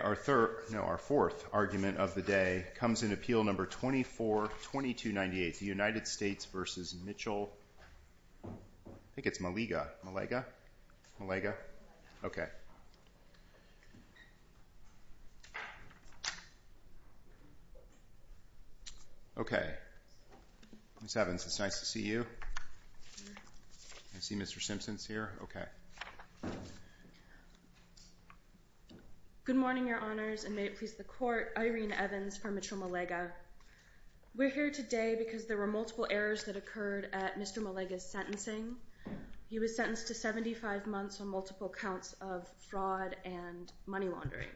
Our fourth argument of the day comes in Appeal No. 24-2298, the United States v. Mitchell... I think it's Melega. Melega? Melega? Okay. Okay. Ms. Evans, it's nice to see you. I see Mr. Simpsons here. Okay. Good morning, Your Honors, and may it please the Court. Irene Evans for Mitchell Melega. We're here today because there were multiple errors that occurred at Mr. Melega's sentencing. He was sentenced to 75 months on multiple counts of fraud and money laundering.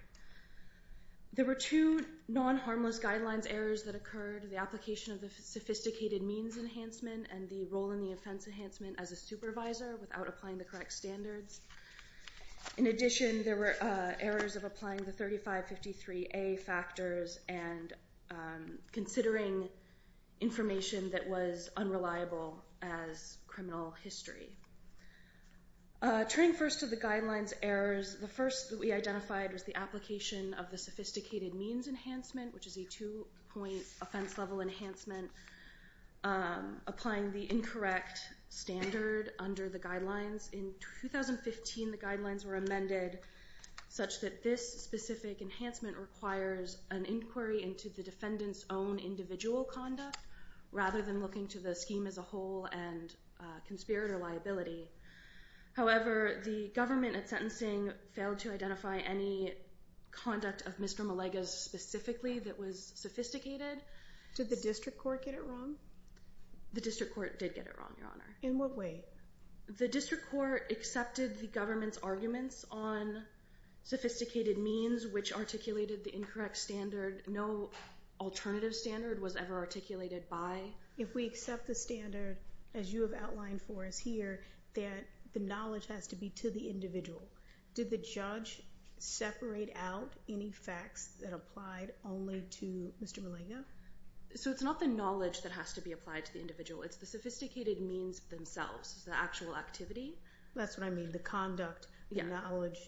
There were two non-harmless guidelines errors that occurred. The application of the sophisticated means enhancement and the role in the offense enhancement as a supervisor without applying the correct standards. In addition, there were errors of applying the 3553A factors and considering information that was unreliable as criminal history. Turning first to the guidelines errors, the first that we identified was the application of the sophisticated means enhancement, which is a two-point offense-level enhancement applying the incorrect standard under the guidelines. In 2015, the guidelines were amended such that this specific enhancement requires an inquiry into the defendant's own individual conduct, rather than looking to the scheme as a whole and conspirator liability. However, the government at sentencing failed to identify any conduct of Mr. Melega's specifically that was sophisticated. Did the district court get it wrong? The district court did get it wrong, Your Honor. In what way? The district court accepted the government's arguments on sophisticated means, which articulated the incorrect standard. No alternative standard was ever articulated by. If we accept the standard as you have outlined for us here, that the knowledge has to be to the individual. Did the judge separate out any facts that applied only to Mr. Melega? So it's not the knowledge that has to be applied to the individual. It's the sophisticated means themselves, the actual activity. That's what I mean, the conduct, the knowledge.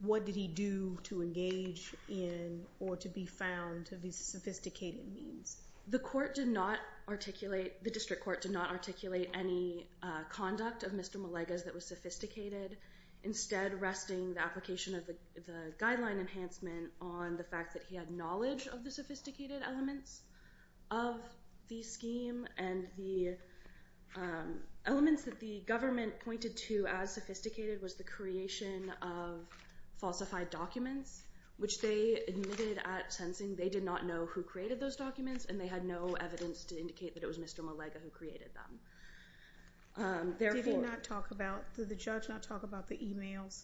What did he do to engage in or to be found to be sophisticated means? The court did not articulate, the district court did not articulate any conduct of Mr. Melega's that was sophisticated, instead resting the application of the guideline enhancement on the fact that he had knowledge of the sophisticated elements of the scheme and the elements that the government pointed to as sophisticated was the creation of falsified documents, which they admitted at sentencing they did not know who created those documents and they had no evidence to indicate that it was Mr. Melega who created them. Did he not talk about, did the judge not talk about the emails?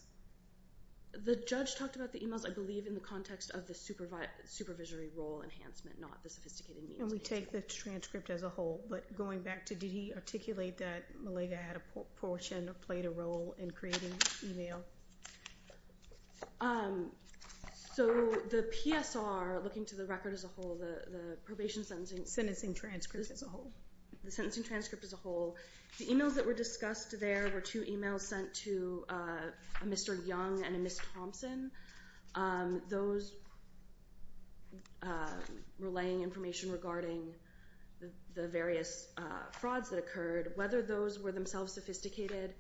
The judge talked about the emails, I believe, in the context of the supervisory role enhancement, not the sophisticated means. And we take the transcript as a whole, but going back to, did he articulate that Melega had a portion or played a role in creating the email? So the PSR, looking to the record as a whole, the probation sentencing. Sentencing transcript as a whole. The sentencing transcript as a whole. The emails that were discussed there were two emails sent to Mr. Young and Ms. Thompson. Those were relaying information regarding the various frauds that occurred. Whether those were themselves sophisticated,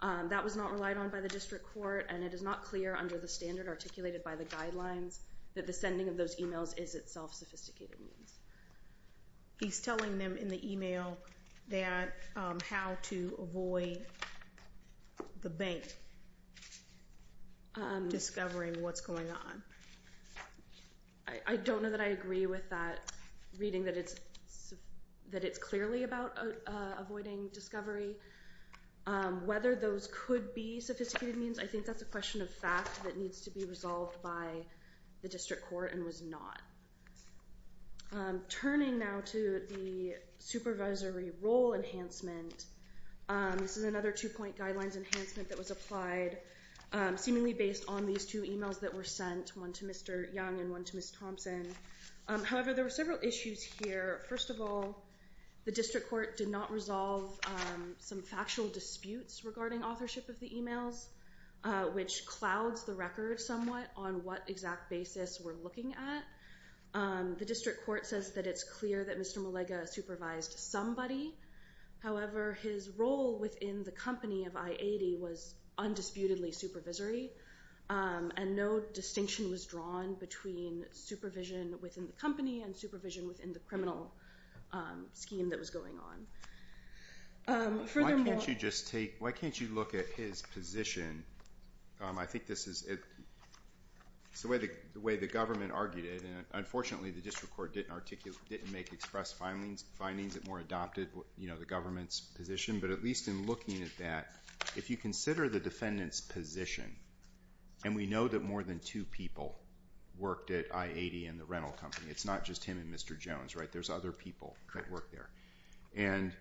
that was not relied on by the district court and it is not clear under the standard articulated by the guidelines that the sending of those emails is itself sophisticated means. He's telling them in the email that, how to avoid the bank, discovering what's going on. I don't know that I agree with that reading that it's clearly about avoiding discovery. Whether those could be sophisticated means, I think that's a question of fact that needs to be resolved by the district court and was not. Turning now to the supervisory role enhancement, this is another two-point guidelines enhancement that was applied, seemingly based on these two emails that were sent, one to Mr. Young and one to Ms. Thompson. However, there were several issues here. First of all, the district court did not resolve some factual disputes regarding authorship of the emails, which clouds the record somewhat on what exact basis we're looking at. The district court says that it's clear that Mr. Malega supervised somebody. However, his role within the company of I-80 was undisputedly supervisory and no distinction was drawn between supervision within the company and supervision within the criminal scheme that was going on. Furthermore... Why can't you look at his position? It's the way the government argued it. Unfortunately, the district court didn't make express findings. It more adopted the government's position, but at least in looking at that, if you consider the defendant's position, and we know that more than two people worked at I-80 and the rental company. It's not just him and Mr. Jones. There's other people that worked there.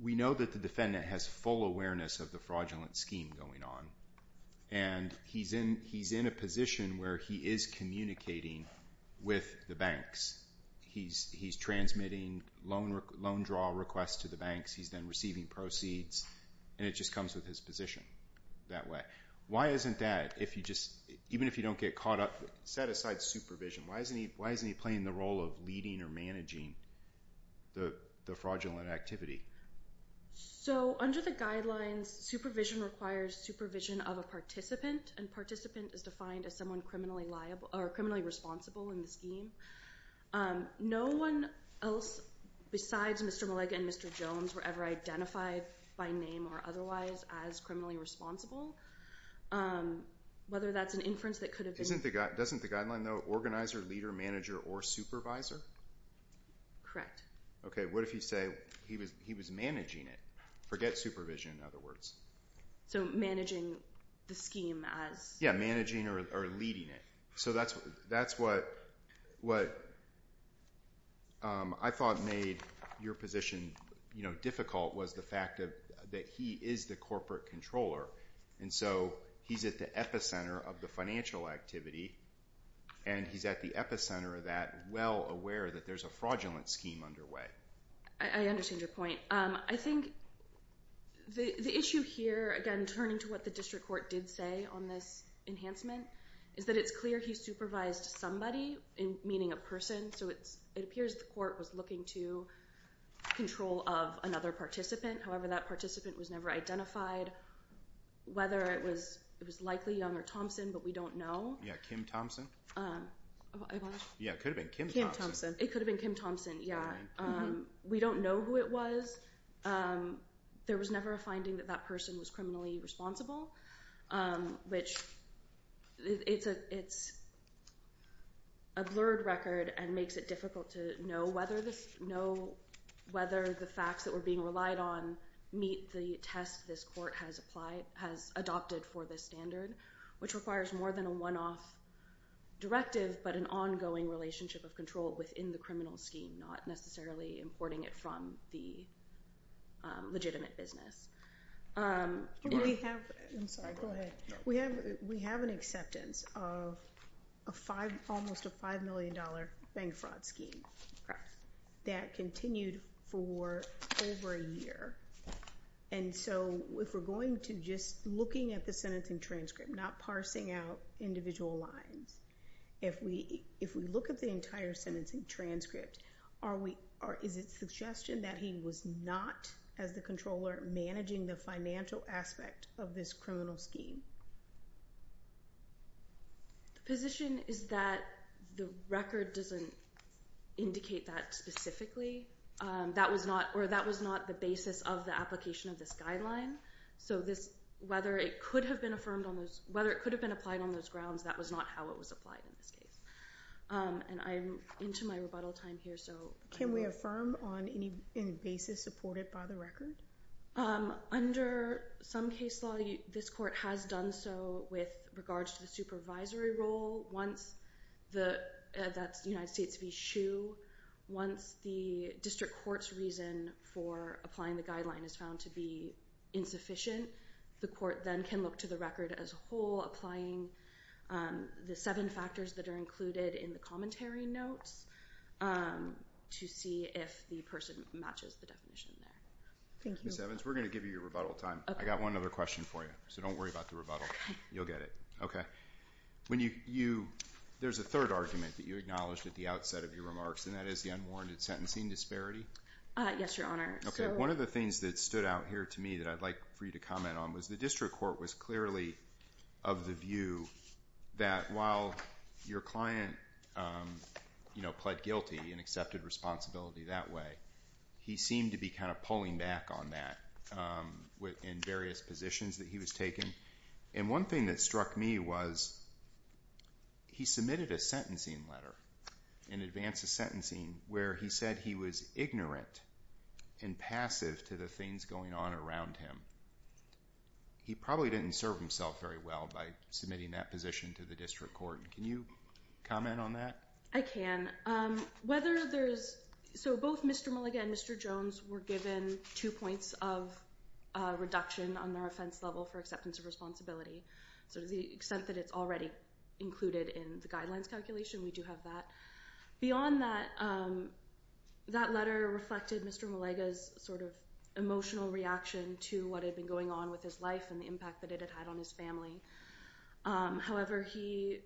We know that the defendant has full awareness of the fraudulent scheme going on, and he's in a position where he is communicating with the banks. He's transmitting loan draw requests to the banks. He's then receiving proceeds, and it just comes with his position that way. Why isn't that, even if you don't get caught up, set aside supervision, why isn't he playing the role of leading or managing the fraudulent activity? Under the guidelines, supervision requires supervision of a participant, and participant is defined as someone criminally responsible in the scheme. No one else besides Mr. Malega and Mr. Jones were ever identified by name or otherwise as criminally responsible. Doesn't the guideline note organizer, leader, manager, or supervisor? Correct. Okay, what if you say he was managing it? Forget supervision, in other words. So managing the scheme as... Yeah, managing or leading it. So that's what I thought made your position difficult, was the fact that he is the corporate controller, and so he's at the epicenter of the financial activity, and he's at the epicenter of that well aware that there's a fraudulent scheme underway. I understand your point. I think the issue here, again turning to what the district court did say on this enhancement, is that it's clear he supervised somebody, meaning a person, so it appears the court was looking to control of another participant. However, that participant was never identified, whether it was likely Young or Thompson, but we don't know. Yeah, Kim Thompson? It could have been Kim Thompson. It could have been Kim Thompson, yeah. We don't know who it was. There was never a finding that that person was criminally responsible, which it's a blurred record and makes it difficult to know whether the facts that were being relied on meet the test this court has adopted for this standard, which requires more than a one-off directive, but an ongoing relationship of legitimate business. We have an acceptance of almost a $5 million bank fraud scheme that continued for over a year, and so if we're going to just looking at the sentencing transcript, not parsing out individual lines, if we look at the financial aspect of this criminal scheme. The position is that the record doesn't indicate that specifically, or that was not the basis of the application of this guideline, so whether it could have been applied on those grounds, that was not how it was applied in this case. And I'm into my rebuttal time here. Can we affirm on any basis supported by the record? Under some case law, this court has done so with regards to the supervisory role. That's United States v. SHU. Once the district court's reason for applying the guideline is found to be insufficient, the court then can look to the record as a whole, applying the seven factors that are included in the commentary notes to see if the person matches the definition there. Thank you. Ms. Evans, we're going to give you your rebuttal time. I've got one other question for you, so don't worry about the rebuttal. You'll get it. Okay. There's a third argument that you acknowledged at the outset of your remarks, and that is the unwarranted sentencing disparity. Yes, Your Honor. One of the things that stood out here to me that I'd like for you to comment on was the district court was clearly of the view that while your client pled guilty and accepted responsibility that way, he seemed to be kind of pulling back on that in various positions that he was taking. And one thing that struck me was he submitted a sentencing letter in advance of sentencing where he said he was ignorant and passive to the things going on around him. He probably didn't serve himself very well by submitting that position to the district court. Can you comment on that? I can. So both Mr. Mulligan and Mr. Jones were given two points of reduction on their offense level for acceptance of responsibility. So to the extent that it's already included in the guidelines calculation, we do have that. Beyond that, that letter reflected Mr. Mulligan's sort of emotional reaction to what had been going on with his life and the impact that it had had on his family. However, he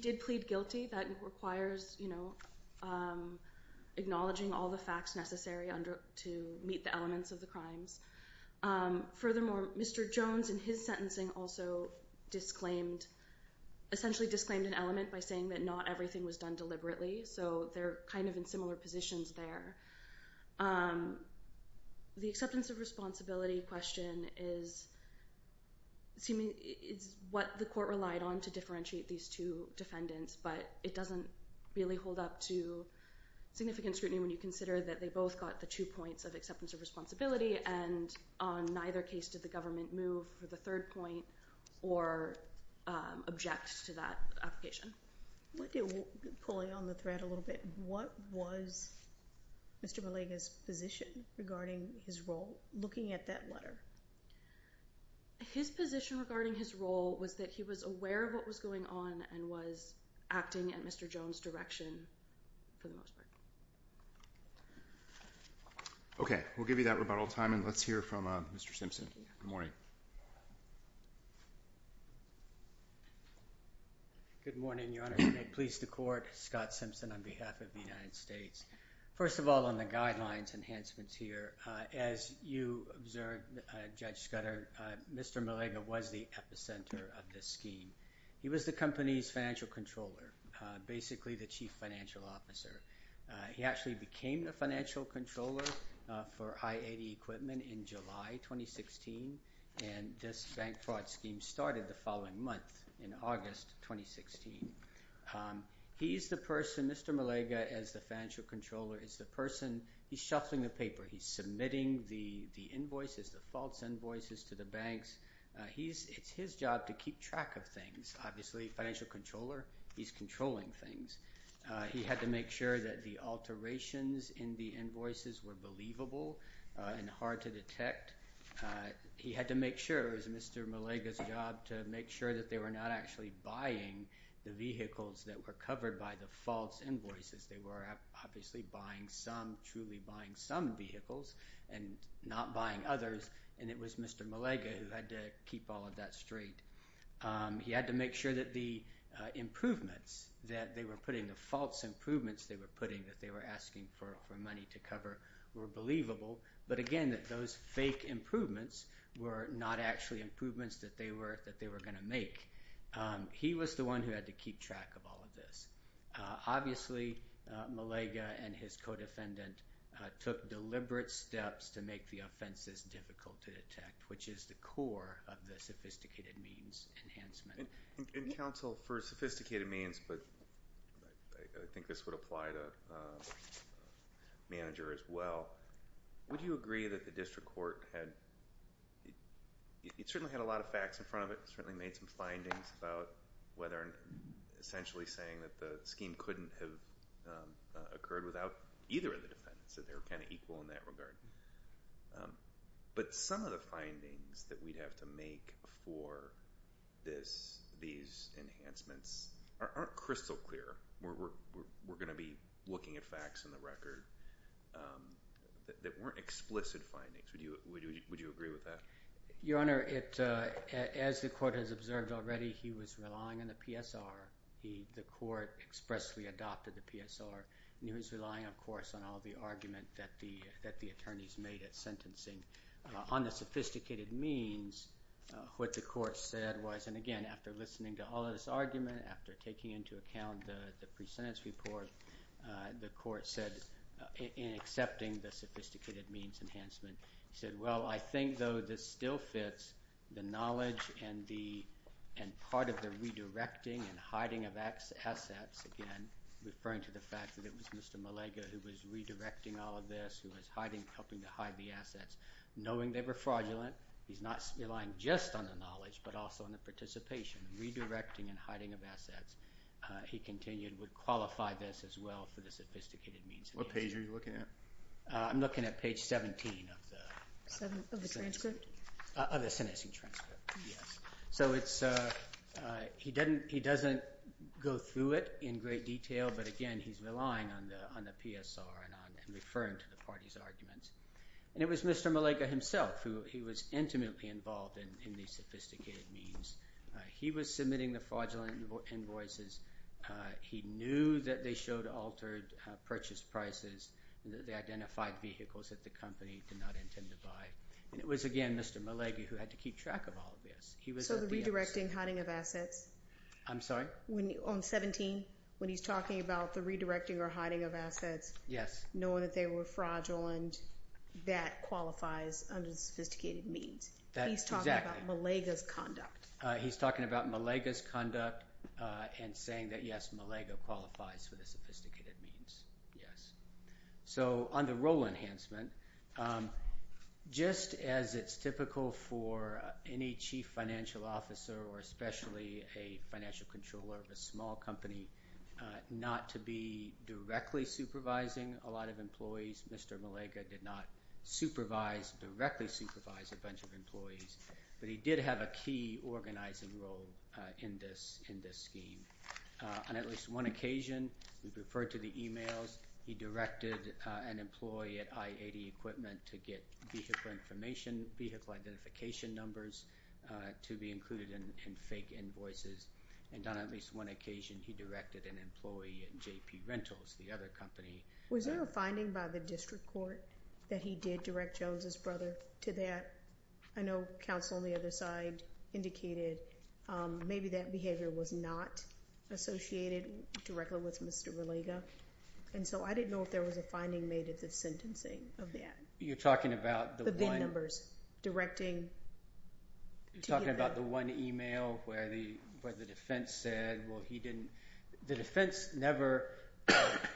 did plead guilty. That requires acknowledging all the facts necessary to meet the elements of the crimes. Furthermore, Mr. Jones in his sentencing also essentially disclaimed an element by saying that not everything was done deliberately. So they're kind of in similar positions there. The acceptance of responsibility question is what the court relied on to differentiate these two defendants, but it doesn't really hold up to significant scrutiny when you consider that they both got the two points of acceptance of responsibility, and on neither case did the government move for the third point or object to that application. Pulling on the thread a little bit, what was Mr. Mulligan's position regarding his role looking at that letter? His position regarding his role was that he was aware of what was going on and was acting in Mr. Jones' direction for the most part. Okay. We'll give you that rebuttal time and let's hear from Mr. Simpson. Good morning. Good morning, Your Honor. Please the court. Scott Simpson on behalf of the United States. First of all, on the guidelines enhancements here, as you observed, Judge Scudder, Mr. Mulligan was the epicenter of this scheme. He was the company's financial controller, basically the chief financial officer. He actually became the financial controller for I-80 equipment in July 2016, and this bank fraud scheme started the following month in August 2016. He's the person, Mr. Mulligan as the financial controller, is the person, he's shuffling the paper. He's submitting the invoices, the false invoices to the banks. It's his job to keep track of things. Obviously, financial controller, he's controlling things. He had to make sure that the alterations in the invoices were believable and hard to detect. He had to make sure it was Mr. Mulligan's job to make sure that they were not actually buying the vehicles that were covered by the false invoices. They were obviously buying some, truly buying some vehicles and not buying others, and it was Mr. Mulligan who had to keep all of that straight. He had to make sure that the improvements that they were putting, the false improvements they were putting that they were asking for money to cover were believable, but again, that those fake improvements were not actually improvements that they were going to make. He was the one who had to keep track of all of this. Obviously, Mulligan and his co-defendant took deliberate steps to make the offenses difficult to detect, which is the core of the sophisticated means enhancement. And counsel, for sophisticated means, but I think this would apply to manager as well, would you agree that the district court had, it certainly had a lot of facts in front of it, certainly made some findings about whether, essentially saying that the scheme couldn't have occurred without either of the defendants, that they were kind of equal in that regard. But some of the findings that we'd have to make for this, these enhancements, aren't crystal clear. We're going to be looking at facts in the record that weren't explicit findings. Would you agree with that? Your Honor, as the court has observed already, he was relying on the PSR. The court expressly adopted the PSR, and he was relying, of course, on all the argument that the attorneys made at sentencing. On the sophisticated means, what the court said was, and again, after listening to all of this argument, after taking into account the pre-sentence report, the court said, in accepting the sophisticated means enhancement, said, well, I think, though, this still fits the knowledge and part of the redirecting and hiding of assets, again, referring to the fact that it was Mr. Malega who was redirecting all of this, who was helping to hide the assets, knowing they were fraudulent. He's not relying just on the knowledge, but also on the participation. Redirecting and hiding of assets, he continued, would qualify this as well for the sophisticated means. What page are you looking at? I'm looking at page 17 of the... Of the transcript? Of the sentencing transcript, yes. So it's... He doesn't go through it in great detail, but again, he's relying on the PSR and referring to the party's arguments. And it was Mr. Malega himself who was intimately involved in the sophisticated means. He was submitting the fraudulent invoices. He knew that they showed altered purchase prices, that they identified vehicles that the company did not intend to buy. And it was, again, Mr. Malega who had to keep track of all of this. He was... So the redirecting, hiding of assets... I'm sorry? On 17, when he's talking about the redirecting or hiding of assets, knowing that they were fraudulent, that qualifies under the sophisticated means. He's talking about Malega's conduct. He's talking about Malega's conduct and saying that, yes, Malega qualifies for the sophisticated means. Yes. So on the role enhancement, just as it's typical for any chief financial officer or especially a financial controller of a small company not to be directly supervising a lot of employees, Mr. Malega did not supervise, directly supervise a bunch of employees. But he did have a key organizing role in this scheme. On at least one occasion, we've referred to the emails. He directed an employee at I-80 Equipment to get vehicle information, vehicle identification numbers to be included in fake invoices. And on at least one occasion, he directed an employee at JP Rentals, the other company. Was there a finding by the district court that he did redirect Jones's brother to that? I know counsel on the other side indicated maybe that behavior was not associated directly with Mr. Malega. And so I didn't know if there was a finding made at the sentencing of that. You're talking about the one... The VIN numbers directing... You're talking about the one email where the defense said, well, he didn't... The defense never...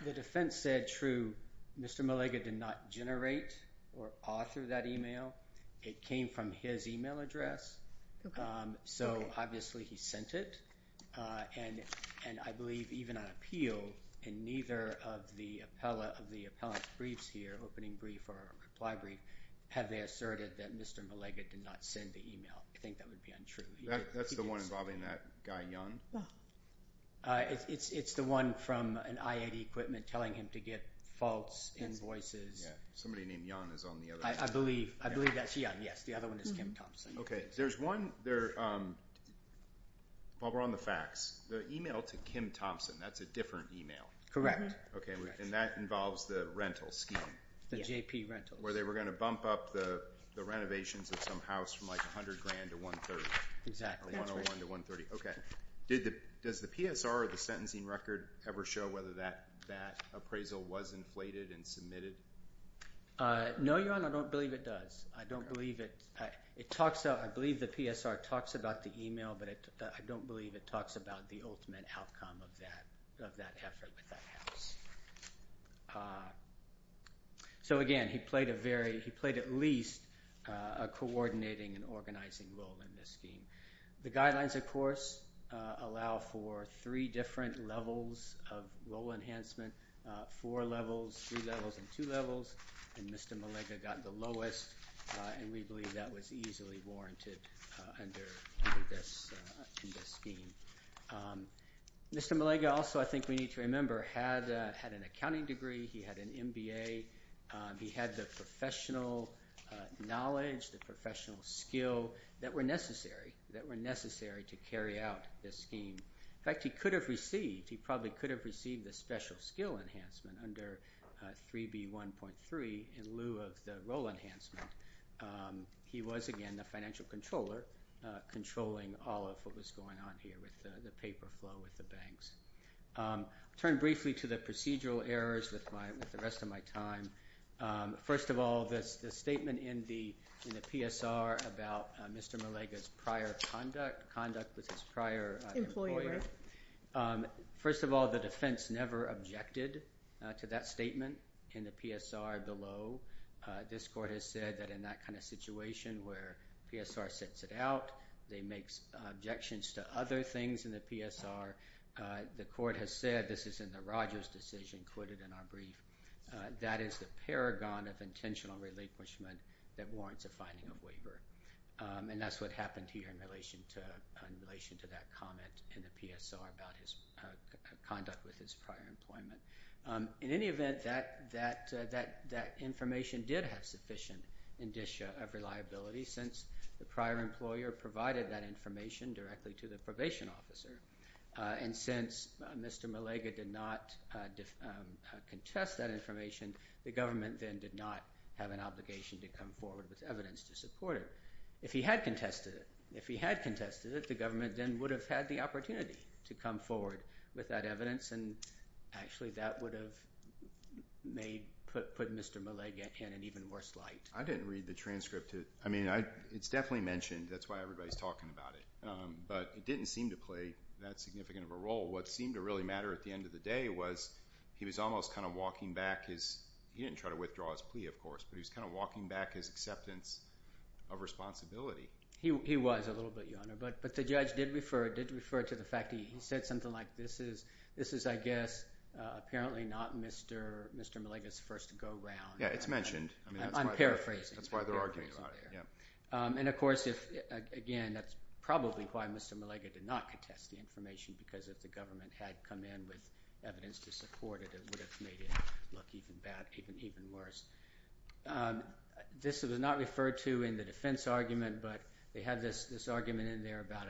The defense said, true, Mr. Malega did not generate or author that email. It came from his email address. So obviously he sent it. And I believe even on appeal, in neither of the appellant briefs here, opening brief or reply brief, have they asserted that Mr. Malega did not send the email. I think that would be untrue. That's the one involving that guy, Young? It's the one from an IAD equipment telling him to get false invoices. Somebody named Young is on the other side. I believe that's Young, yes. The other one is Kim Thompson. Okay. There's one... While we're on the facts, the email to Kim Thompson, that's a different email. Correct. And that involves the rental scheme. The JP Rentals. Where they were going to bump up the renovations of some house from like 100 grand to one third. Exactly. Or 101 to 130. Okay. Does the PSR or the sentencing record ever show whether that appraisal was inflated and submitted? No, Your Honor. I don't believe it does. I don't believe it... I believe the PSR talks about the email, but I don't believe it talks about the ultimate outcome of that effort with that house. So again, he played a very... He played at least a coordinating and organizing role in this scheme. The guidelines, of course, allow for three different levels of role enhancement. Four levels, three levels, and two levels. And Mr. Malega got the lowest, and we believe that was easily warranted under this scheme. Mr. Malega also, I think we need to remember, had an accounting degree. He had an MBA. He had the professional knowledge, the professional skill that were necessary to carry out this scheme. In fact, he could have received, he probably could have received the special skill enhancement under 3B1.3 in lieu of the role enhancement. He was, again, the financial controller, controlling all of what was going on here with the paper flow with the banks. Turn briefly to the procedural errors with the rest of my time. First of all, the statement in the PSR about Mr. Malega's prior conduct with his prior employer. First of all, the defense never objected to that statement in the PSR below. This court has said that in that kind of situation where PSR sets it out, they make objections to other things in the PSR. The court has said this is in the Rogers decision quoted in our brief. That is the paragon of intentional relinquishment that warrants a finding of waiver. And that's what happened here in relation to that comment in the PSR about his conduct with his prior employment. In any event, that information did have sufficient indicia of reliability since the prior employer provided that information directly to the probation officer. And since Mr. Malega did not contest that information, the government then did not have an obligation to come forward with that evidence. And actually that would have put Mr. Malega in an even worse light. I didn't read the transcript. I mean, it's definitely mentioned. That's why everybody's talking about it. But it didn't seem to play that significant of a role. What seemed to really matter at the end of the day was he was almost kind of walking back. He didn't try to withdraw his plea, of course, but he was kind of walking back his acceptance of responsibility. He was a little bit, Your Honor. But the judge did refer to the fact that he said something like this is, I guess, apparently not Mr. Malega's first go-round. Yeah, it's mentioned. I'm paraphrasing. That's why they're arguing about it. And of course, again, that's probably why Mr. Malega did not contest the information because if the government had come in with evidence to support it, it would have made it look even worse. This was not referred to in the defense argument, but they had this argument in there about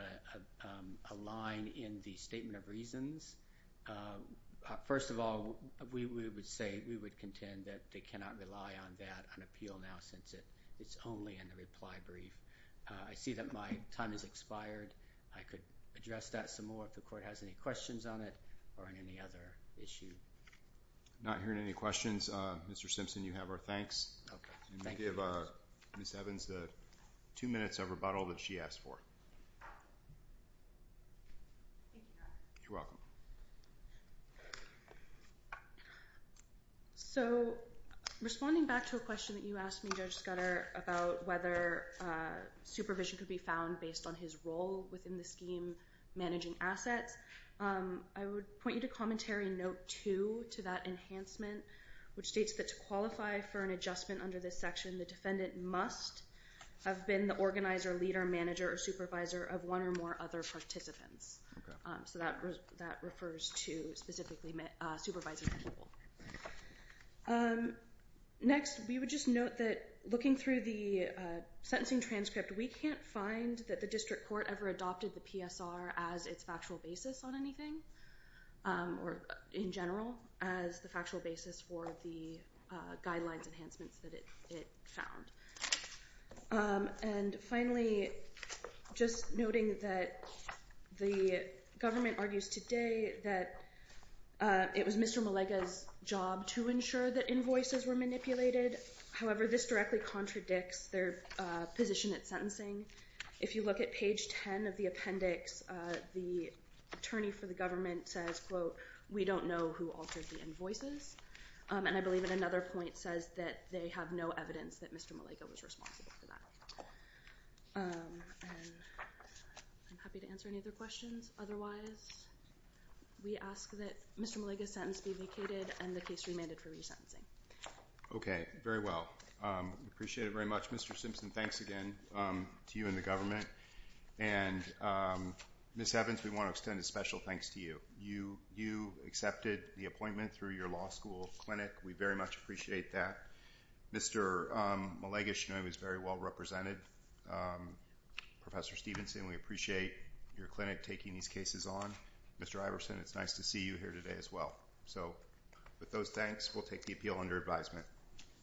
a line in the statement of reasons. First of all, we would contend that they cannot rely on that on appeal now since it's only in the reply brief. I see that my time has expired. I could address that some more if the Court has any questions on it or on any other issue. Not hearing any questions, Mr. Simpson, you have our thanks. I'm going to give Ms. Evans the two minutes of rebuttal that she asked for. Thank you, Your Honor. You're welcome. So, responding back to a question that you asked me, Judge Scudder, about whether supervision could be found based on his role within the scheme managing assets, I would point you to Commentary Note 2 to that enhancement, which states that to qualify for an adjustment under this section, the defendant must have been the organizer, leader, manager, or supervisor of one or more other participants. So that refers to specifically supervising people. Next, we would just note that looking through the sentencing transcript, we can't find that the District Court ever adopted the PSR as its factual basis on anything, or in general, as the factual basis for the guidelines enhancements that it found. And finally, just noting that the government argues today that it was Mr. Malega's job to ensure that invoices were manipulated. However, this directly contradicts their position at sentencing. If you look at page 10 of the appendix, the attorney for the government says, quote, we don't know who altered the invoices. And I believe that another point says that they have no evidence that Mr. Malega was responsible for that. I'm happy to answer any other questions. Otherwise, we ask that Mr. Malega's sentence be vacated and the case remanded for resentencing. Okay. Very well. We appreciate it very much. Mr. Simpson, thanks again to you and the government. And Ms. Evans, we want to extend a special thanks to you. You accepted the appointment through your law school clinic. We very much appreciate that. Mr. Malega was very well represented. Professor Stevenson, we appreciate your clinic taking these cases on. Mr. Iverson, it's nice to see you here today as well. So with those thanks, we'll take the appeal under advisement.